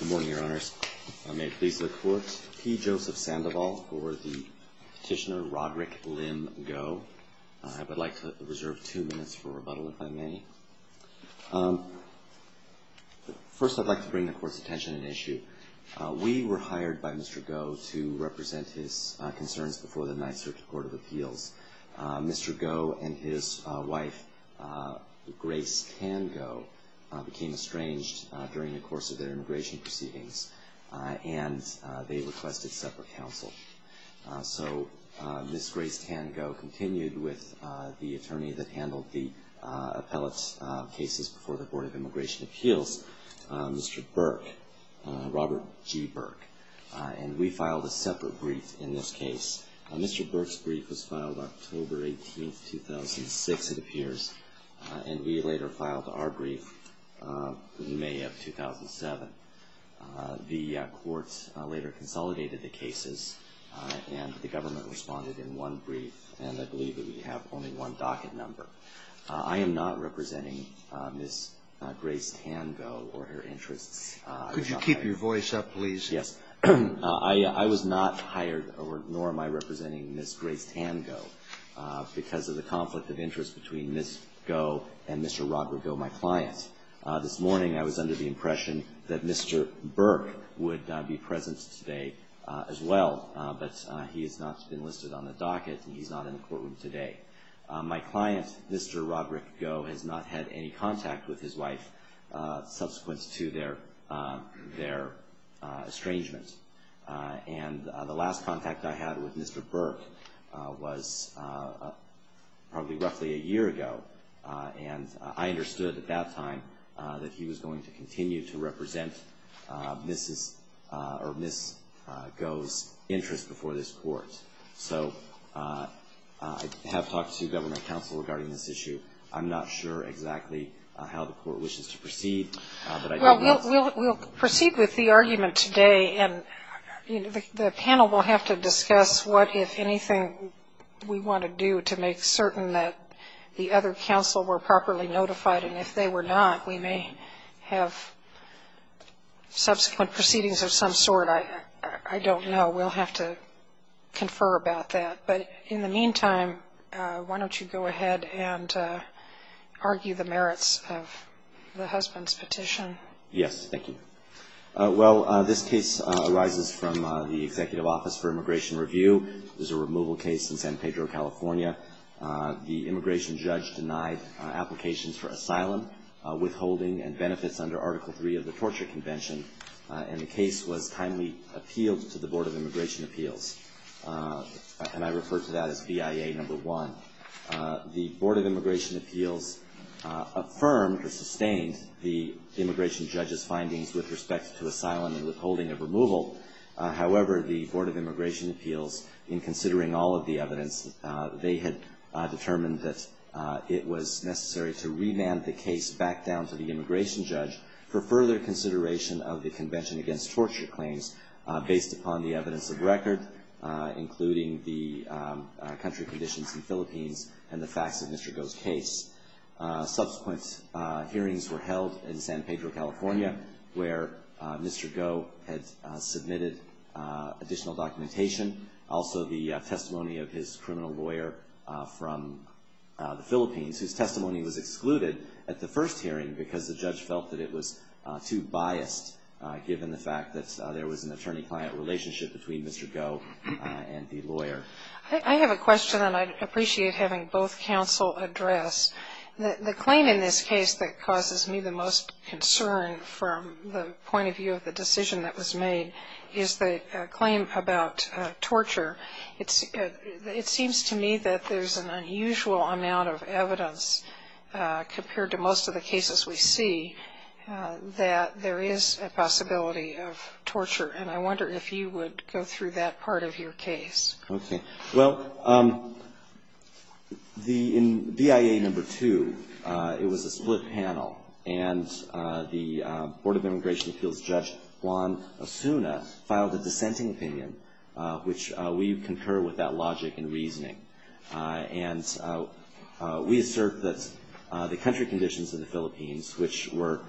Good morning, Your Honors. May it please the Court, P. Joseph Sandoval for the petitioner Roderick Lim Goh. I would like to reserve two minutes for rebuttal if I may. First, I'd like to bring the Court's attention to an issue. We were hired by Mr. Goh to represent his concerns before the Ninth Circuit Court of Appeals. Mr. Goh and his wife, Grace Tan Goh, became estranged during the course of their immigration proceedings, and they requested separate counsel. So Ms. Grace Tan Goh continued with the attorney that handled the appellate cases before the Board of Immigration Appeals, Mr. Burke, Robert G. Burke, and we filed a separate brief in this case. Mr. Burke's brief was filed October 18, 2006, it appears, and we later filed our brief in May of 2007. The Court later consolidated the cases, and the government responded in one brief, and I believe that we have only one docket number. I am not representing Ms. Grace Tan Goh or her interests. Could you keep your voice up, please? Yes. I was not hired, nor am I representing Ms. Grace Tan Goh, because of the conflict of interest between Ms. Goh and Mr. Roderick Goh, my client. This morning I was under the impression that Mr. Burke would be present today as well, but he has not been listed on the docket, and he's not in the courtroom today. My client, Mr. Roderick Goh, has not had any contact with his wife subsequent to their estrangement. And the last contact I had with Mr. Burke was probably roughly a year ago, and I understood at that time that he was going to continue to represent Ms. Goh's interests before this Court. So I have talked to government counsel regarding this issue. I'm not sure exactly how the Court wishes to proceed, but I think we'll proceed with the argument today. And the panel will have to discuss what, if anything, we want to do to make certain that the other counsel were properly notified. And if they were not, we may have subsequent proceedings of some sort. I don't know. We'll have to confer about that. But in the meantime, why don't you go ahead and argue the merits of the husband's petition? Yes. Thank you. Well, this case arises from the Executive Office for Immigration Review. This is a removal case in San Pedro, California. The immigration judge denied applications for asylum, withholding, and benefits under Article III of the Torture Convention. And the case was timely appealed to the Board of Immigration Appeals, and I refer to that as BIA No. 1. The Board of Immigration Appeals affirmed or sustained the immigration judge's findings with respect to asylum and withholding of removal. However, the Board of Immigration Appeals, in considering all of the evidence, they had determined that it was necessary to remand the case back down to the immigration judge for further consideration of the Convention Against Torture Claims based upon the evidence of record, including the country conditions in Philippines and the facts of Mr. Goh's case. Subsequent hearings were held in San Pedro, California, where Mr. Goh had submitted additional documentation, also the testimony of his criminal lawyer from the Philippines, whose testimony was excluded at the first hearing because the judge felt that it was too biased, given the fact that there was an attorney-client relationship between Mr. Goh and the lawyer. I have a question, and I'd appreciate having both counsel address. The claim in this case that causes me the most concern from the point of view of the decision that was made is the claim about torture. It seems to me that there's an unusual amount of evidence compared to most of the cases we see that there is a possibility of torture, and I wonder if you would go through that part of your case. Okay. Well, in BIA number two, it was a split panel, and the Board of Immigration Appeals Judge Juan Osuna filed a dissenting opinion, which we concur with that logic and reasoning. And we assert that the country conditions of the Philippines, which were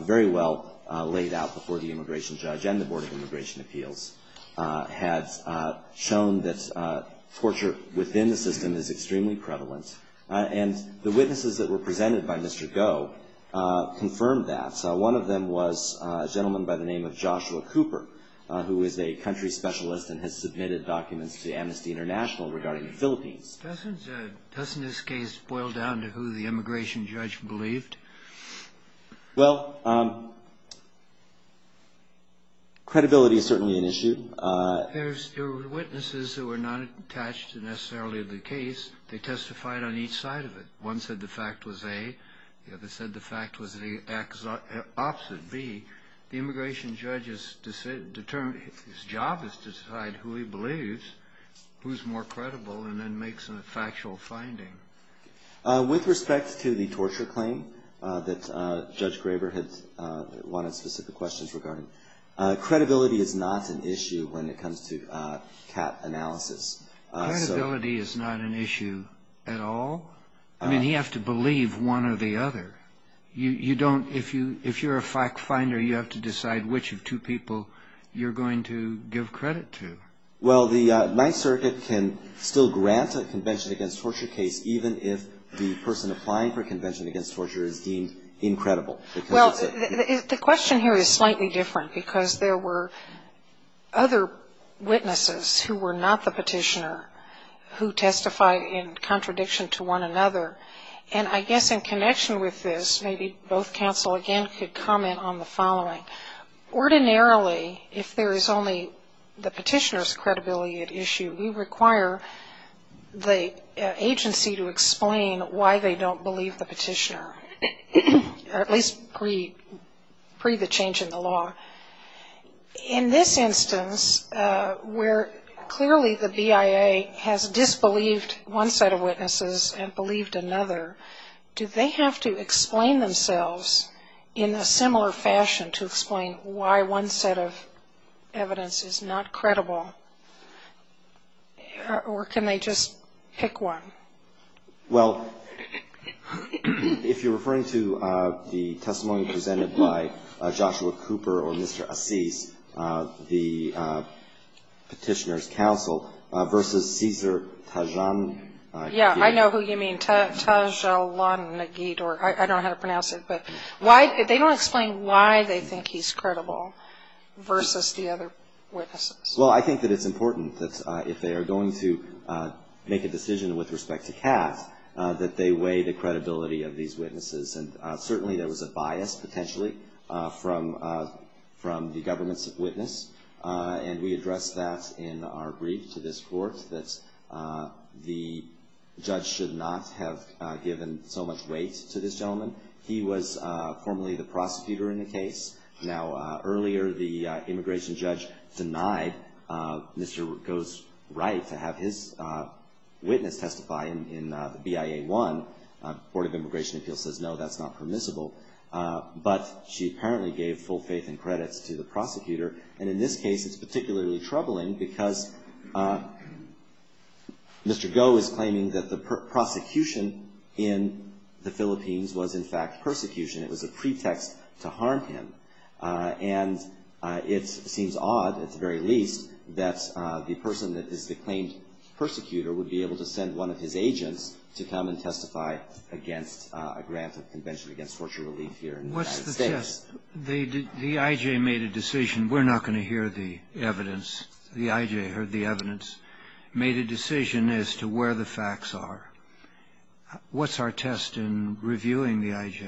very well laid out before the immigration judge and the Board of Immigration Appeals, had shown that torture within the system is extremely prevalent. And the witnesses that were presented by Mr. Goh confirmed that. One of them was a gentleman by the name of Joshua Cooper, who is a country specialist and has submitted documents to Amnesty International regarding the Philippines. Doesn't this case boil down to who the immigration judge believed? Well, credibility is certainly an issue. There were witnesses who were not attached necessarily to the case. They testified on each side of it. One said the fact was A. The other said the fact was the opposite, B. The immigration judge's job is to decide who he believes, who is more credible, and then makes a factual finding. With respect to the torture claim that Judge Graber had wanted specific questions regarding, credibility is not an issue when it comes to CAT analysis. Credibility is not an issue at all? I mean, you have to believe one or the other. You don't, if you're a fact finder, you have to decide which of two people you're going to give credit to. Well, the Ninth Circuit can still grant a convention against torture case even if the person applying for a convention against torture is deemed incredible. Well, the question here is slightly different because there were other witnesses who were not the petitioner who testified in contradiction to one another. And I guess in connection with this, maybe both counsel again could comment on the following. Ordinarily, if there is only the petitioner's credibility at issue, we require the agency to explain why they don't believe the petitioner, or at least pre the change in the law. In this instance, where clearly the BIA has disbelieved one set of witnesses and believed another, do they have to explain themselves in a similar fashion to explain why one set of evidence is not credible? Or can they just pick one? Well, if you're referring to the testimony presented by Joshua Cooper or Mr. Assis, the petitioner's counsel versus Cesar Tajan. Yeah, I know who you mean. Taj-a-lan-nig-eet, or I don't know how to pronounce it. But they don't explain why they think he's credible versus the other witnesses. Well, I think that it's important that if they are going to make a decision with respect to Cass, that they weigh the credibility of these witnesses. And certainly there was a bias, potentially, from the government's witness. And we addressed that in our brief to this Court, that the judge should not have given so much weight to this gentleman. He was formerly the prosecutor in the case. Now, earlier, the immigration judge denied Mr. Goh's right to have his witness testify in BIA 1. The Board of Immigration Appeals says, no, that's not permissible. But she apparently gave full faith and credits to the prosecutor. And in this case, it's particularly troubling because Mr. Goh is claiming that the prosecution in the Philippines was, in fact, persecution. It was a pretext to harm him. And it seems odd, at the very least, that the person that is the claimed persecutor would be able to send one of his agents to come and testify against a grant of Convention Against Torture Relief here in the United States. What's the test? The I.J. made a decision. We're not going to hear the evidence. The I.J. heard the evidence, made a decision as to where the facts are. What's our test in reviewing the I.J.?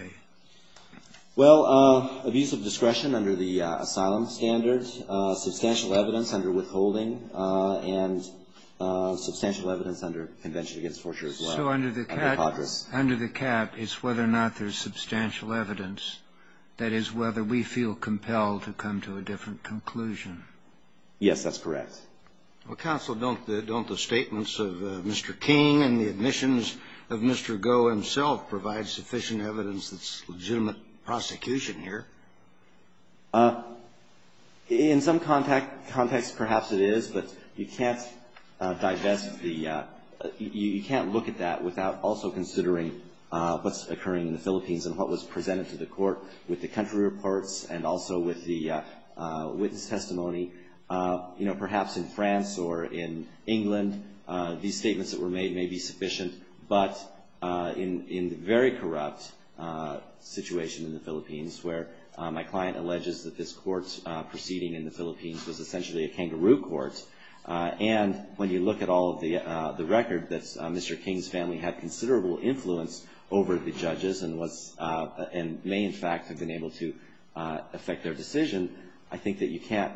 Well, abuse of discretion under the asylum standards, substantial evidence under withholding, and substantial evidence under Convention Against Torture as well. So under the cap under the cap is whether or not there's substantial evidence, that is, whether we feel compelled to come to a different conclusion. Yes, that's correct. Well, counsel, don't the statements of Mr. King and the admissions of Mr. Goh himself provide sufficient evidence that's legitimate prosecution here? In some context, perhaps it is. But you can't digest the you can't look at that without also considering what's occurring in the Philippines and what was presented to the Court with the country reports and also with the witness testimony. You know, perhaps in France or in England, these statements that were made may be sufficient. But in the very corrupt situation in the Philippines where my client alleges that this court proceeding in the Philippines was essentially a kangaroo court, and when you look at all of the record, that Mr. King's family had considerable influence over the judges and was and may in fact have been able to affect their decision, I think that you can't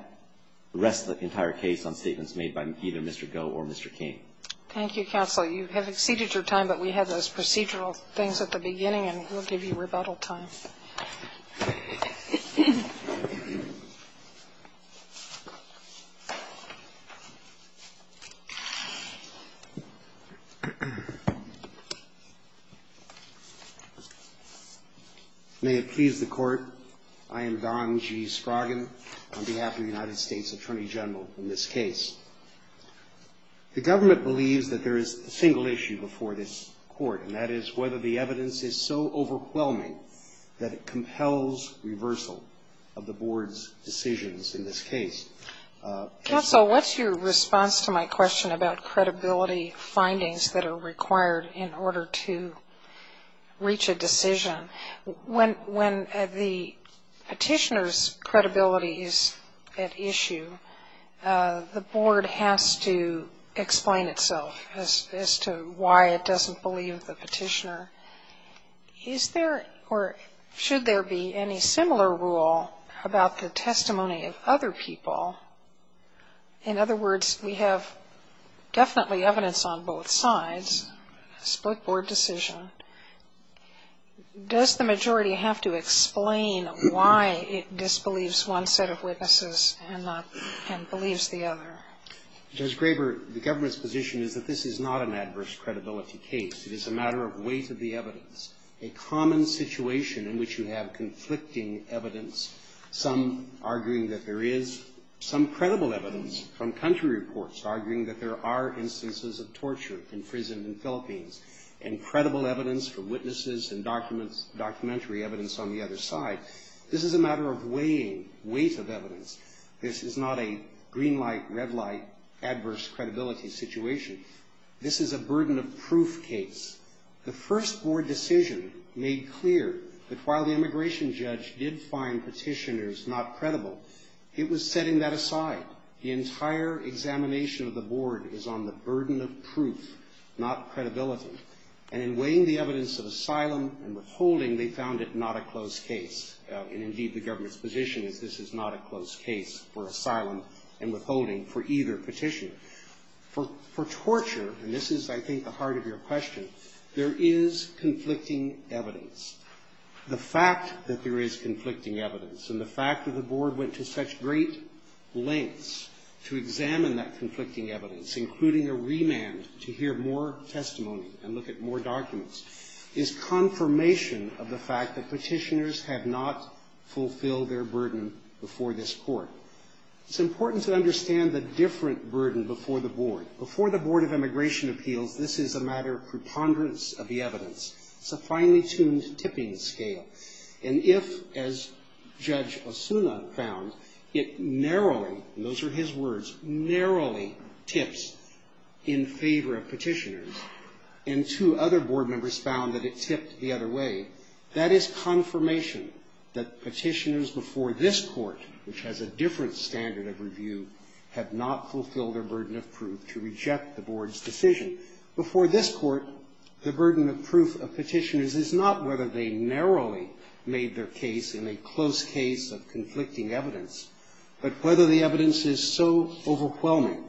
rest the entire case on statements made by either Mr. Goh or Mr. King. Thank you, counsel. You have exceeded your time, but we had those procedural things at the beginning and we'll give you rebuttal time. May it please the Court, I am Don G. Sproggin, on behalf of the United States Attorney General, in this case. The government believes that there is a single issue before this court, and that is whether the evidence is so overwhelming that it compels reversal of the board's decisions in this case. Counsel, what's your response to my question about credibility findings that are required in order to reach a decision? When the petitioner's credibility is at issue, the board has to explain itself as to why it doesn't believe the petitioner. Is there or should there be any similar rule about the testimony of other people? In other words, we have definitely evidence on both sides, a split board decision. Does the majority have to explain why it disbelieves one set of witnesses and believes the other? Judge Graber, the government's position is that this is not an adverse credibility case. It is a matter of weight of the evidence, a common situation in which you have conflicting evidence, some arguing that there is, some credible evidence from country reports arguing that there are instances of torture in prison in the Philippines, and credible evidence from witnesses and documentary evidence on the other side. This is a matter of weighing, weight of evidence. This is not a green light, red light, adverse credibility situation. This is a burden of proof case. The first board decision made clear that while the immigration judge did find petitioners not credible, it was setting that aside. The entire examination of the board is on the burden of proof, not credibility. And in weighing the evidence of asylum and withholding, they found it not a close case. And indeed, the government's position is this is not a close case for asylum and withholding for either petitioner. For torture, and this is I think the heart of your question, there is conflicting evidence. The fact that there is conflicting evidence and the fact that the board went to such great lengths to examine that conflicting evidence, including a remand to hear more testimony and look at more documents, is confirmation of the fact that petitioners have not fulfilled their burden before this court. It's important to understand the different burden before the board. Before the Board of Immigration Appeals, this is a matter of preponderance of the evidence. It's a finely tuned tipping scale. And if, as Judge Osuna found, it narrowly, and those are his words, narrowly tips in favor of petitioners, and two other board members found that it tipped the other way, that is confirmation that petitioners before this court, which has a different standard of review, have not fulfilled their burden of proof to reject the board's decision. Before this court, the burden of proof of petitioners is not whether they narrowly made their case in a close case of conflicting evidence, but whether the evidence is so overwhelming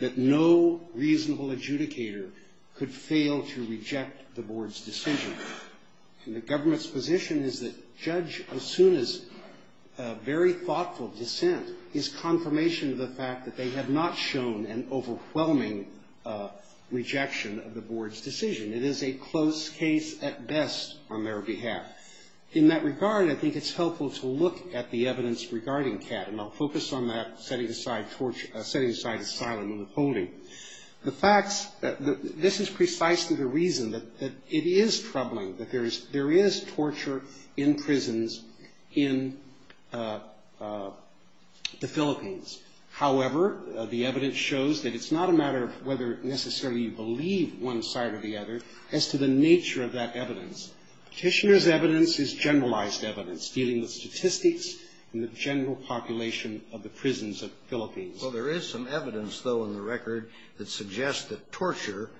that no reasonable adjudicator could fail to reject the board's decision. And the government's position is that Judge Osuna's very thoughtful dissent is confirmation of the fact that they have not shown an overwhelming rejection of the board's decision. It is a close case at best on their behalf. In that regard, I think it's helpful to look at the evidence regarding CAT, and I'll focus on that setting aside silent and withholding. The facts, this is precisely the reason that it is troubling that there is torture in prisons in the Philippines. However, the evidence shows that it's not a matter of whether necessarily you believe one side or the other as to the nature of that evidence. Petitioner's evidence is generalized evidence dealing with statistics Well, there is some evidence, though, in the record that suggests that torture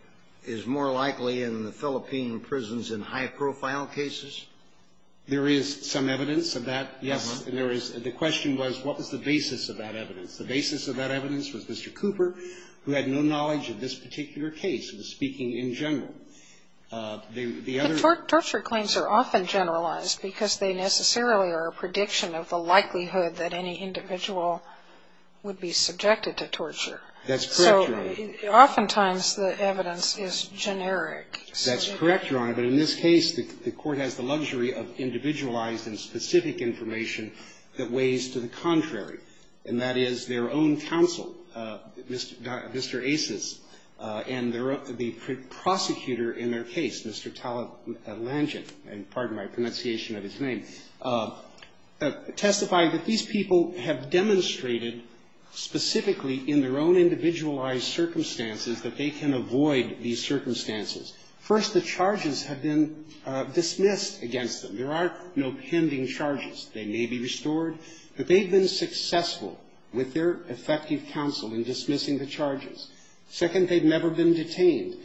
is more likely in the Philippine prisons in high-profile cases. There is some evidence of that, yes. There is. The question was what was the basis of that evidence. The basis of that evidence was Mr. Cooper, who had no knowledge of this particular case, was speaking in general. The other But torture claims are often generalized because they necessarily are a prediction of the likelihood that any individual would be subjected to torture. That's correct, Your Honor. So oftentimes the evidence is generic. That's correct, Your Honor. But in this case, the Court has the luxury of individualized and specific information that weighs to the contrary, and that is their own counsel, Mr. Aces, and the prosecutor in their case, Mr. Talat Langen, and pardon my pronunciation of his name, testified that these people have demonstrated specifically in their own individualized circumstances that they can avoid these circumstances. First, the charges have been dismissed against them. There are no pending charges. They may be restored, but they've been successful with their effective counsel in dismissing the charges. Second, they've never been detained.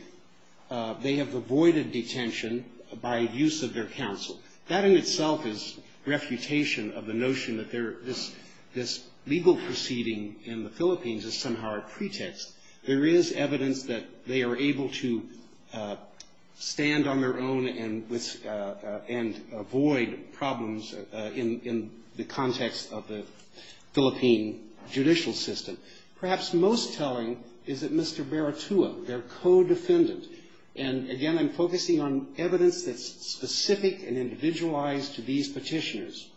They have avoided detention by use of their counsel. That in itself is refutation of the notion that this legal proceeding in the Philippines is somehow a pretext. There is evidence that they are able to stand on their own and avoid problems in the context of the Philippine judicial system. Perhaps most telling is that Mr. Baratua, their co-defendant, and, again, I'm focusing on evidence that's specific and individualized to these petitioners.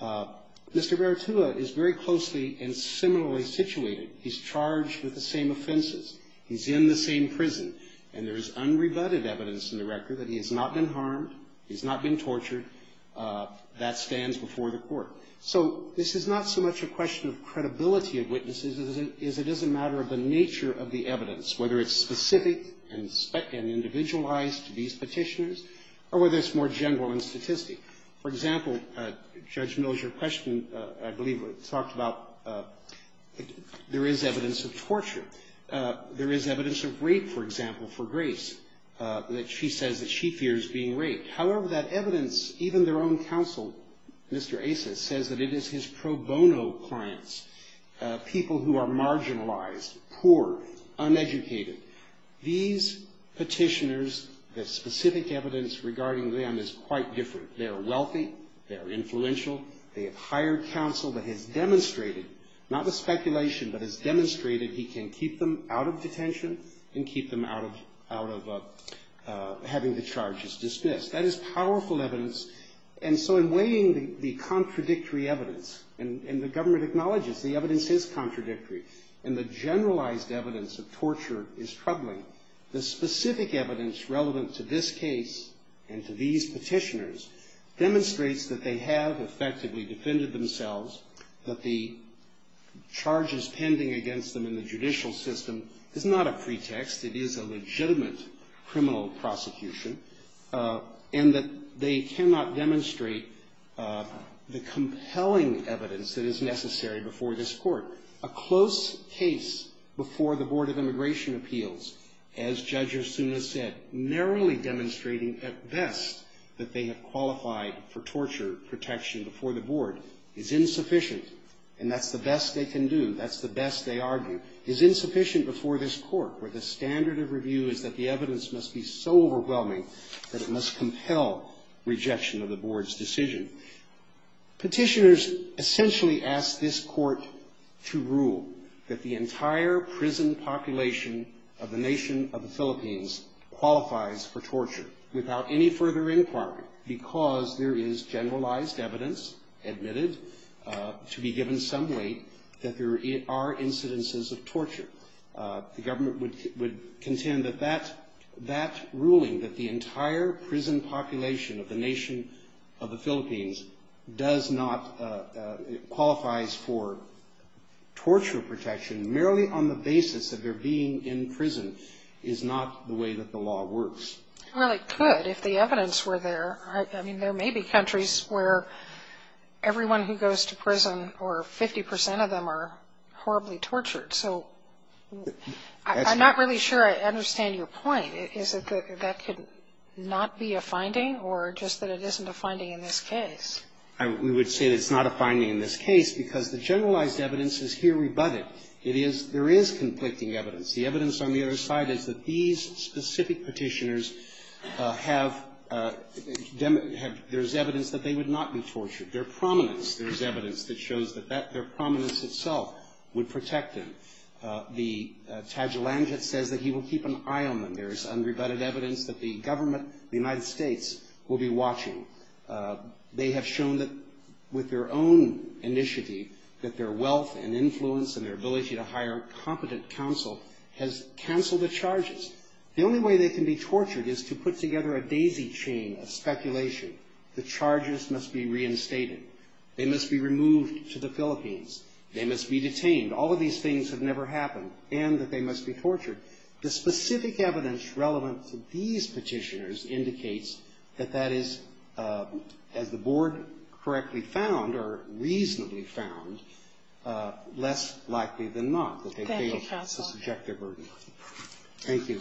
Mr. Baratua is very closely and similarly situated. He's charged with the same offenses. He's in the same prison, and there is unrebutted evidence in the record that he has not been harmed, he's not been tortured. That stands before the Court. So this is not so much a question of credibility of witnesses as it is a matter of the nature of the evidence, whether it's specific and individualized to these petitioners or whether it's more general in statistic. For example, Judge Mills, your question, I believe, talked about there is evidence of torture. There is evidence of rape, for example, for Grace, that she says that she fears being raped. However, that evidence, even their own counsel, Mr. Asis, says that it is his pro bono clients, people who are marginalized, poor, uneducated. These petitioners, the specific evidence regarding them is quite different. They are wealthy. They are influential. They have hired counsel that has demonstrated, not with speculation, but has demonstrated he can keep them out of detention and keep them out of having the charges dismissed. That is powerful evidence. And so in weighing the contradictory evidence, and the government acknowledges the evidence is contradictory, and the generalized evidence of torture is troubling, the specific evidence relevant to this case and to these petitioners demonstrates that they have effectively defended themselves, that the charges pending against them in the judicial system is not a pretext. It is a legitimate criminal prosecution. And that they cannot demonstrate the compelling evidence that is necessary before this court. A close case before the Board of Immigration Appeals, as Judge Osuna said, narrowly demonstrating at best that they have qualified for torture protection before the board, is insufficient. And that's the best they can do. That's the best they argue. And that is insufficient before this court, where the standard of review is that the evidence must be so overwhelming that it must compel rejection of the board's decision. Petitioners essentially ask this court to rule that the entire prison population of the nation of the Philippines qualifies for torture without any further inquiry, because there is generalized evidence admitted to be given some weight that there are incidences of torture. The government would contend that that ruling, that the entire prison population of the nation of the Philippines does not, qualifies for torture protection merely on the basis of their being in prison, is not the way that the law works. Well, it could if the evidence were there. I mean, there may be countries where everyone who goes to prison or 50 percent of them are horribly tortured. So I'm not really sure I understand your point. Is it that that could not be a finding or just that it isn't a finding in this case? We would say that it's not a finding in this case because the generalized evidence is here rebutted. It is, there is conflicting evidence. The evidence on the other side is that these specific petitioners have, there is evidence that they would not be tortured. Their prominence, there is evidence that shows that their prominence itself would protect them. The tajolanget says that he will keep an eye on them. There is unrebutted evidence that the government, the United States, will be watching. They have shown that with their own initiative, that their wealth and influence and their has canceled the charges. The only way they can be tortured is to put together a daisy chain of speculation. The charges must be reinstated. They must be removed to the Philippines. They must be detained. All of these things have never happened and that they must be tortured. The specific evidence relevant to these petitioners indicates that that is, as the board correctly found or reasonably found, less likely than not that they failed to subject their burden. Thank you.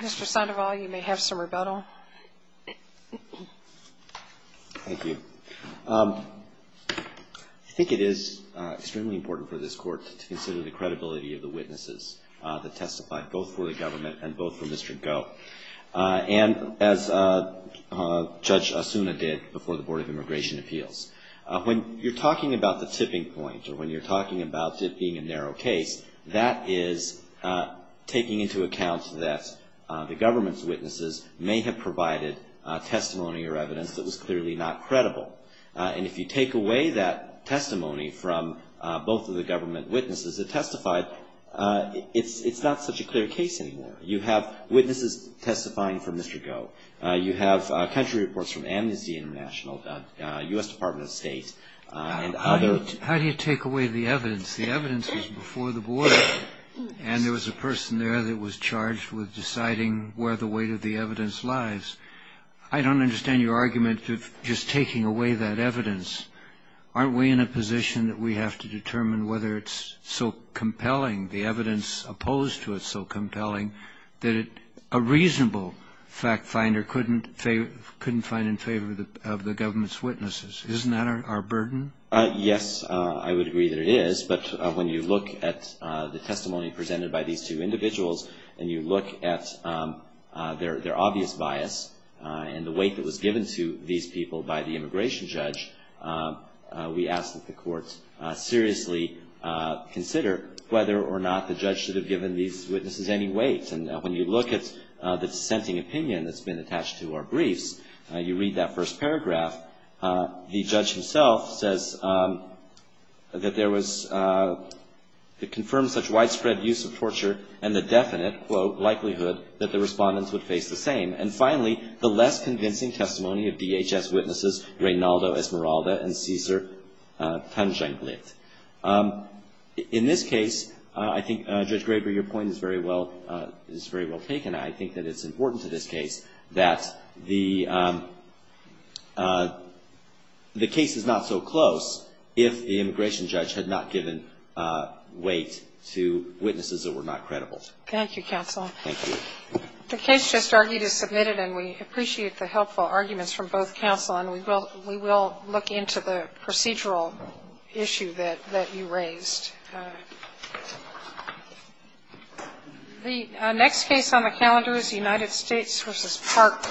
Mr. Sandoval, you may have some rebuttal. Thank you. I think it is extremely important for this Court to consider the credibility of the witnesses that testified, both for the government and both for Mr. Goh. And as Judge Asuna did before the Board of Immigration Appeals, when you're talking about the tipping point or when you're talking about it being a narrow case, that is taking into account that the government's witnesses may have provided testimony or evidence that was clearly not credible. And if you take away that testimony from both of the government witnesses that testified, it's not such a clear case anymore. You have witnesses testifying for Mr. Goh. You have country reports from Amnesty International, U.S. Department of State, and other. How do you take away the evidence? The evidence was before the Board. And there was a person there that was charged with deciding where the weight of the evidence lies. I don't understand your argument of just taking away that evidence. Aren't we in a position that we have to determine whether it's so compelling, the evidence opposed to it's so compelling, that a reasonable fact finder couldn't find in favor of the government's witnesses? Isn't that our burden? Yes, I would agree that it is. But when you look at the testimony presented by these two individuals and you look at their obvious bias and the weight that was given to these people by the immigration judge, we ask that the courts seriously consider whether or not the judge should have given these witnesses any weight. And when you look at the dissenting opinion that's been attached to our briefs, you read that first paragraph. The judge himself says that there was the confirmed such widespread use of torture and the definite, quote, likelihood that the respondents would face the same. And finally, the less convincing testimony of DHS witnesses, Reynaldo Esmeralda and Cesar Panjanglit. In this case, I think, Judge Graber, your point is very well taken. I think that it's important to this case that the case is not so close if the immigration judge had not given weight to witnesses that were not credible. Thank you, counsel. Thank you. The case just argued is submitted, and we appreciate the helpful arguments from both counsel. And we will look into the procedural issue that you raised. The next case on the calendar is United States v. Park.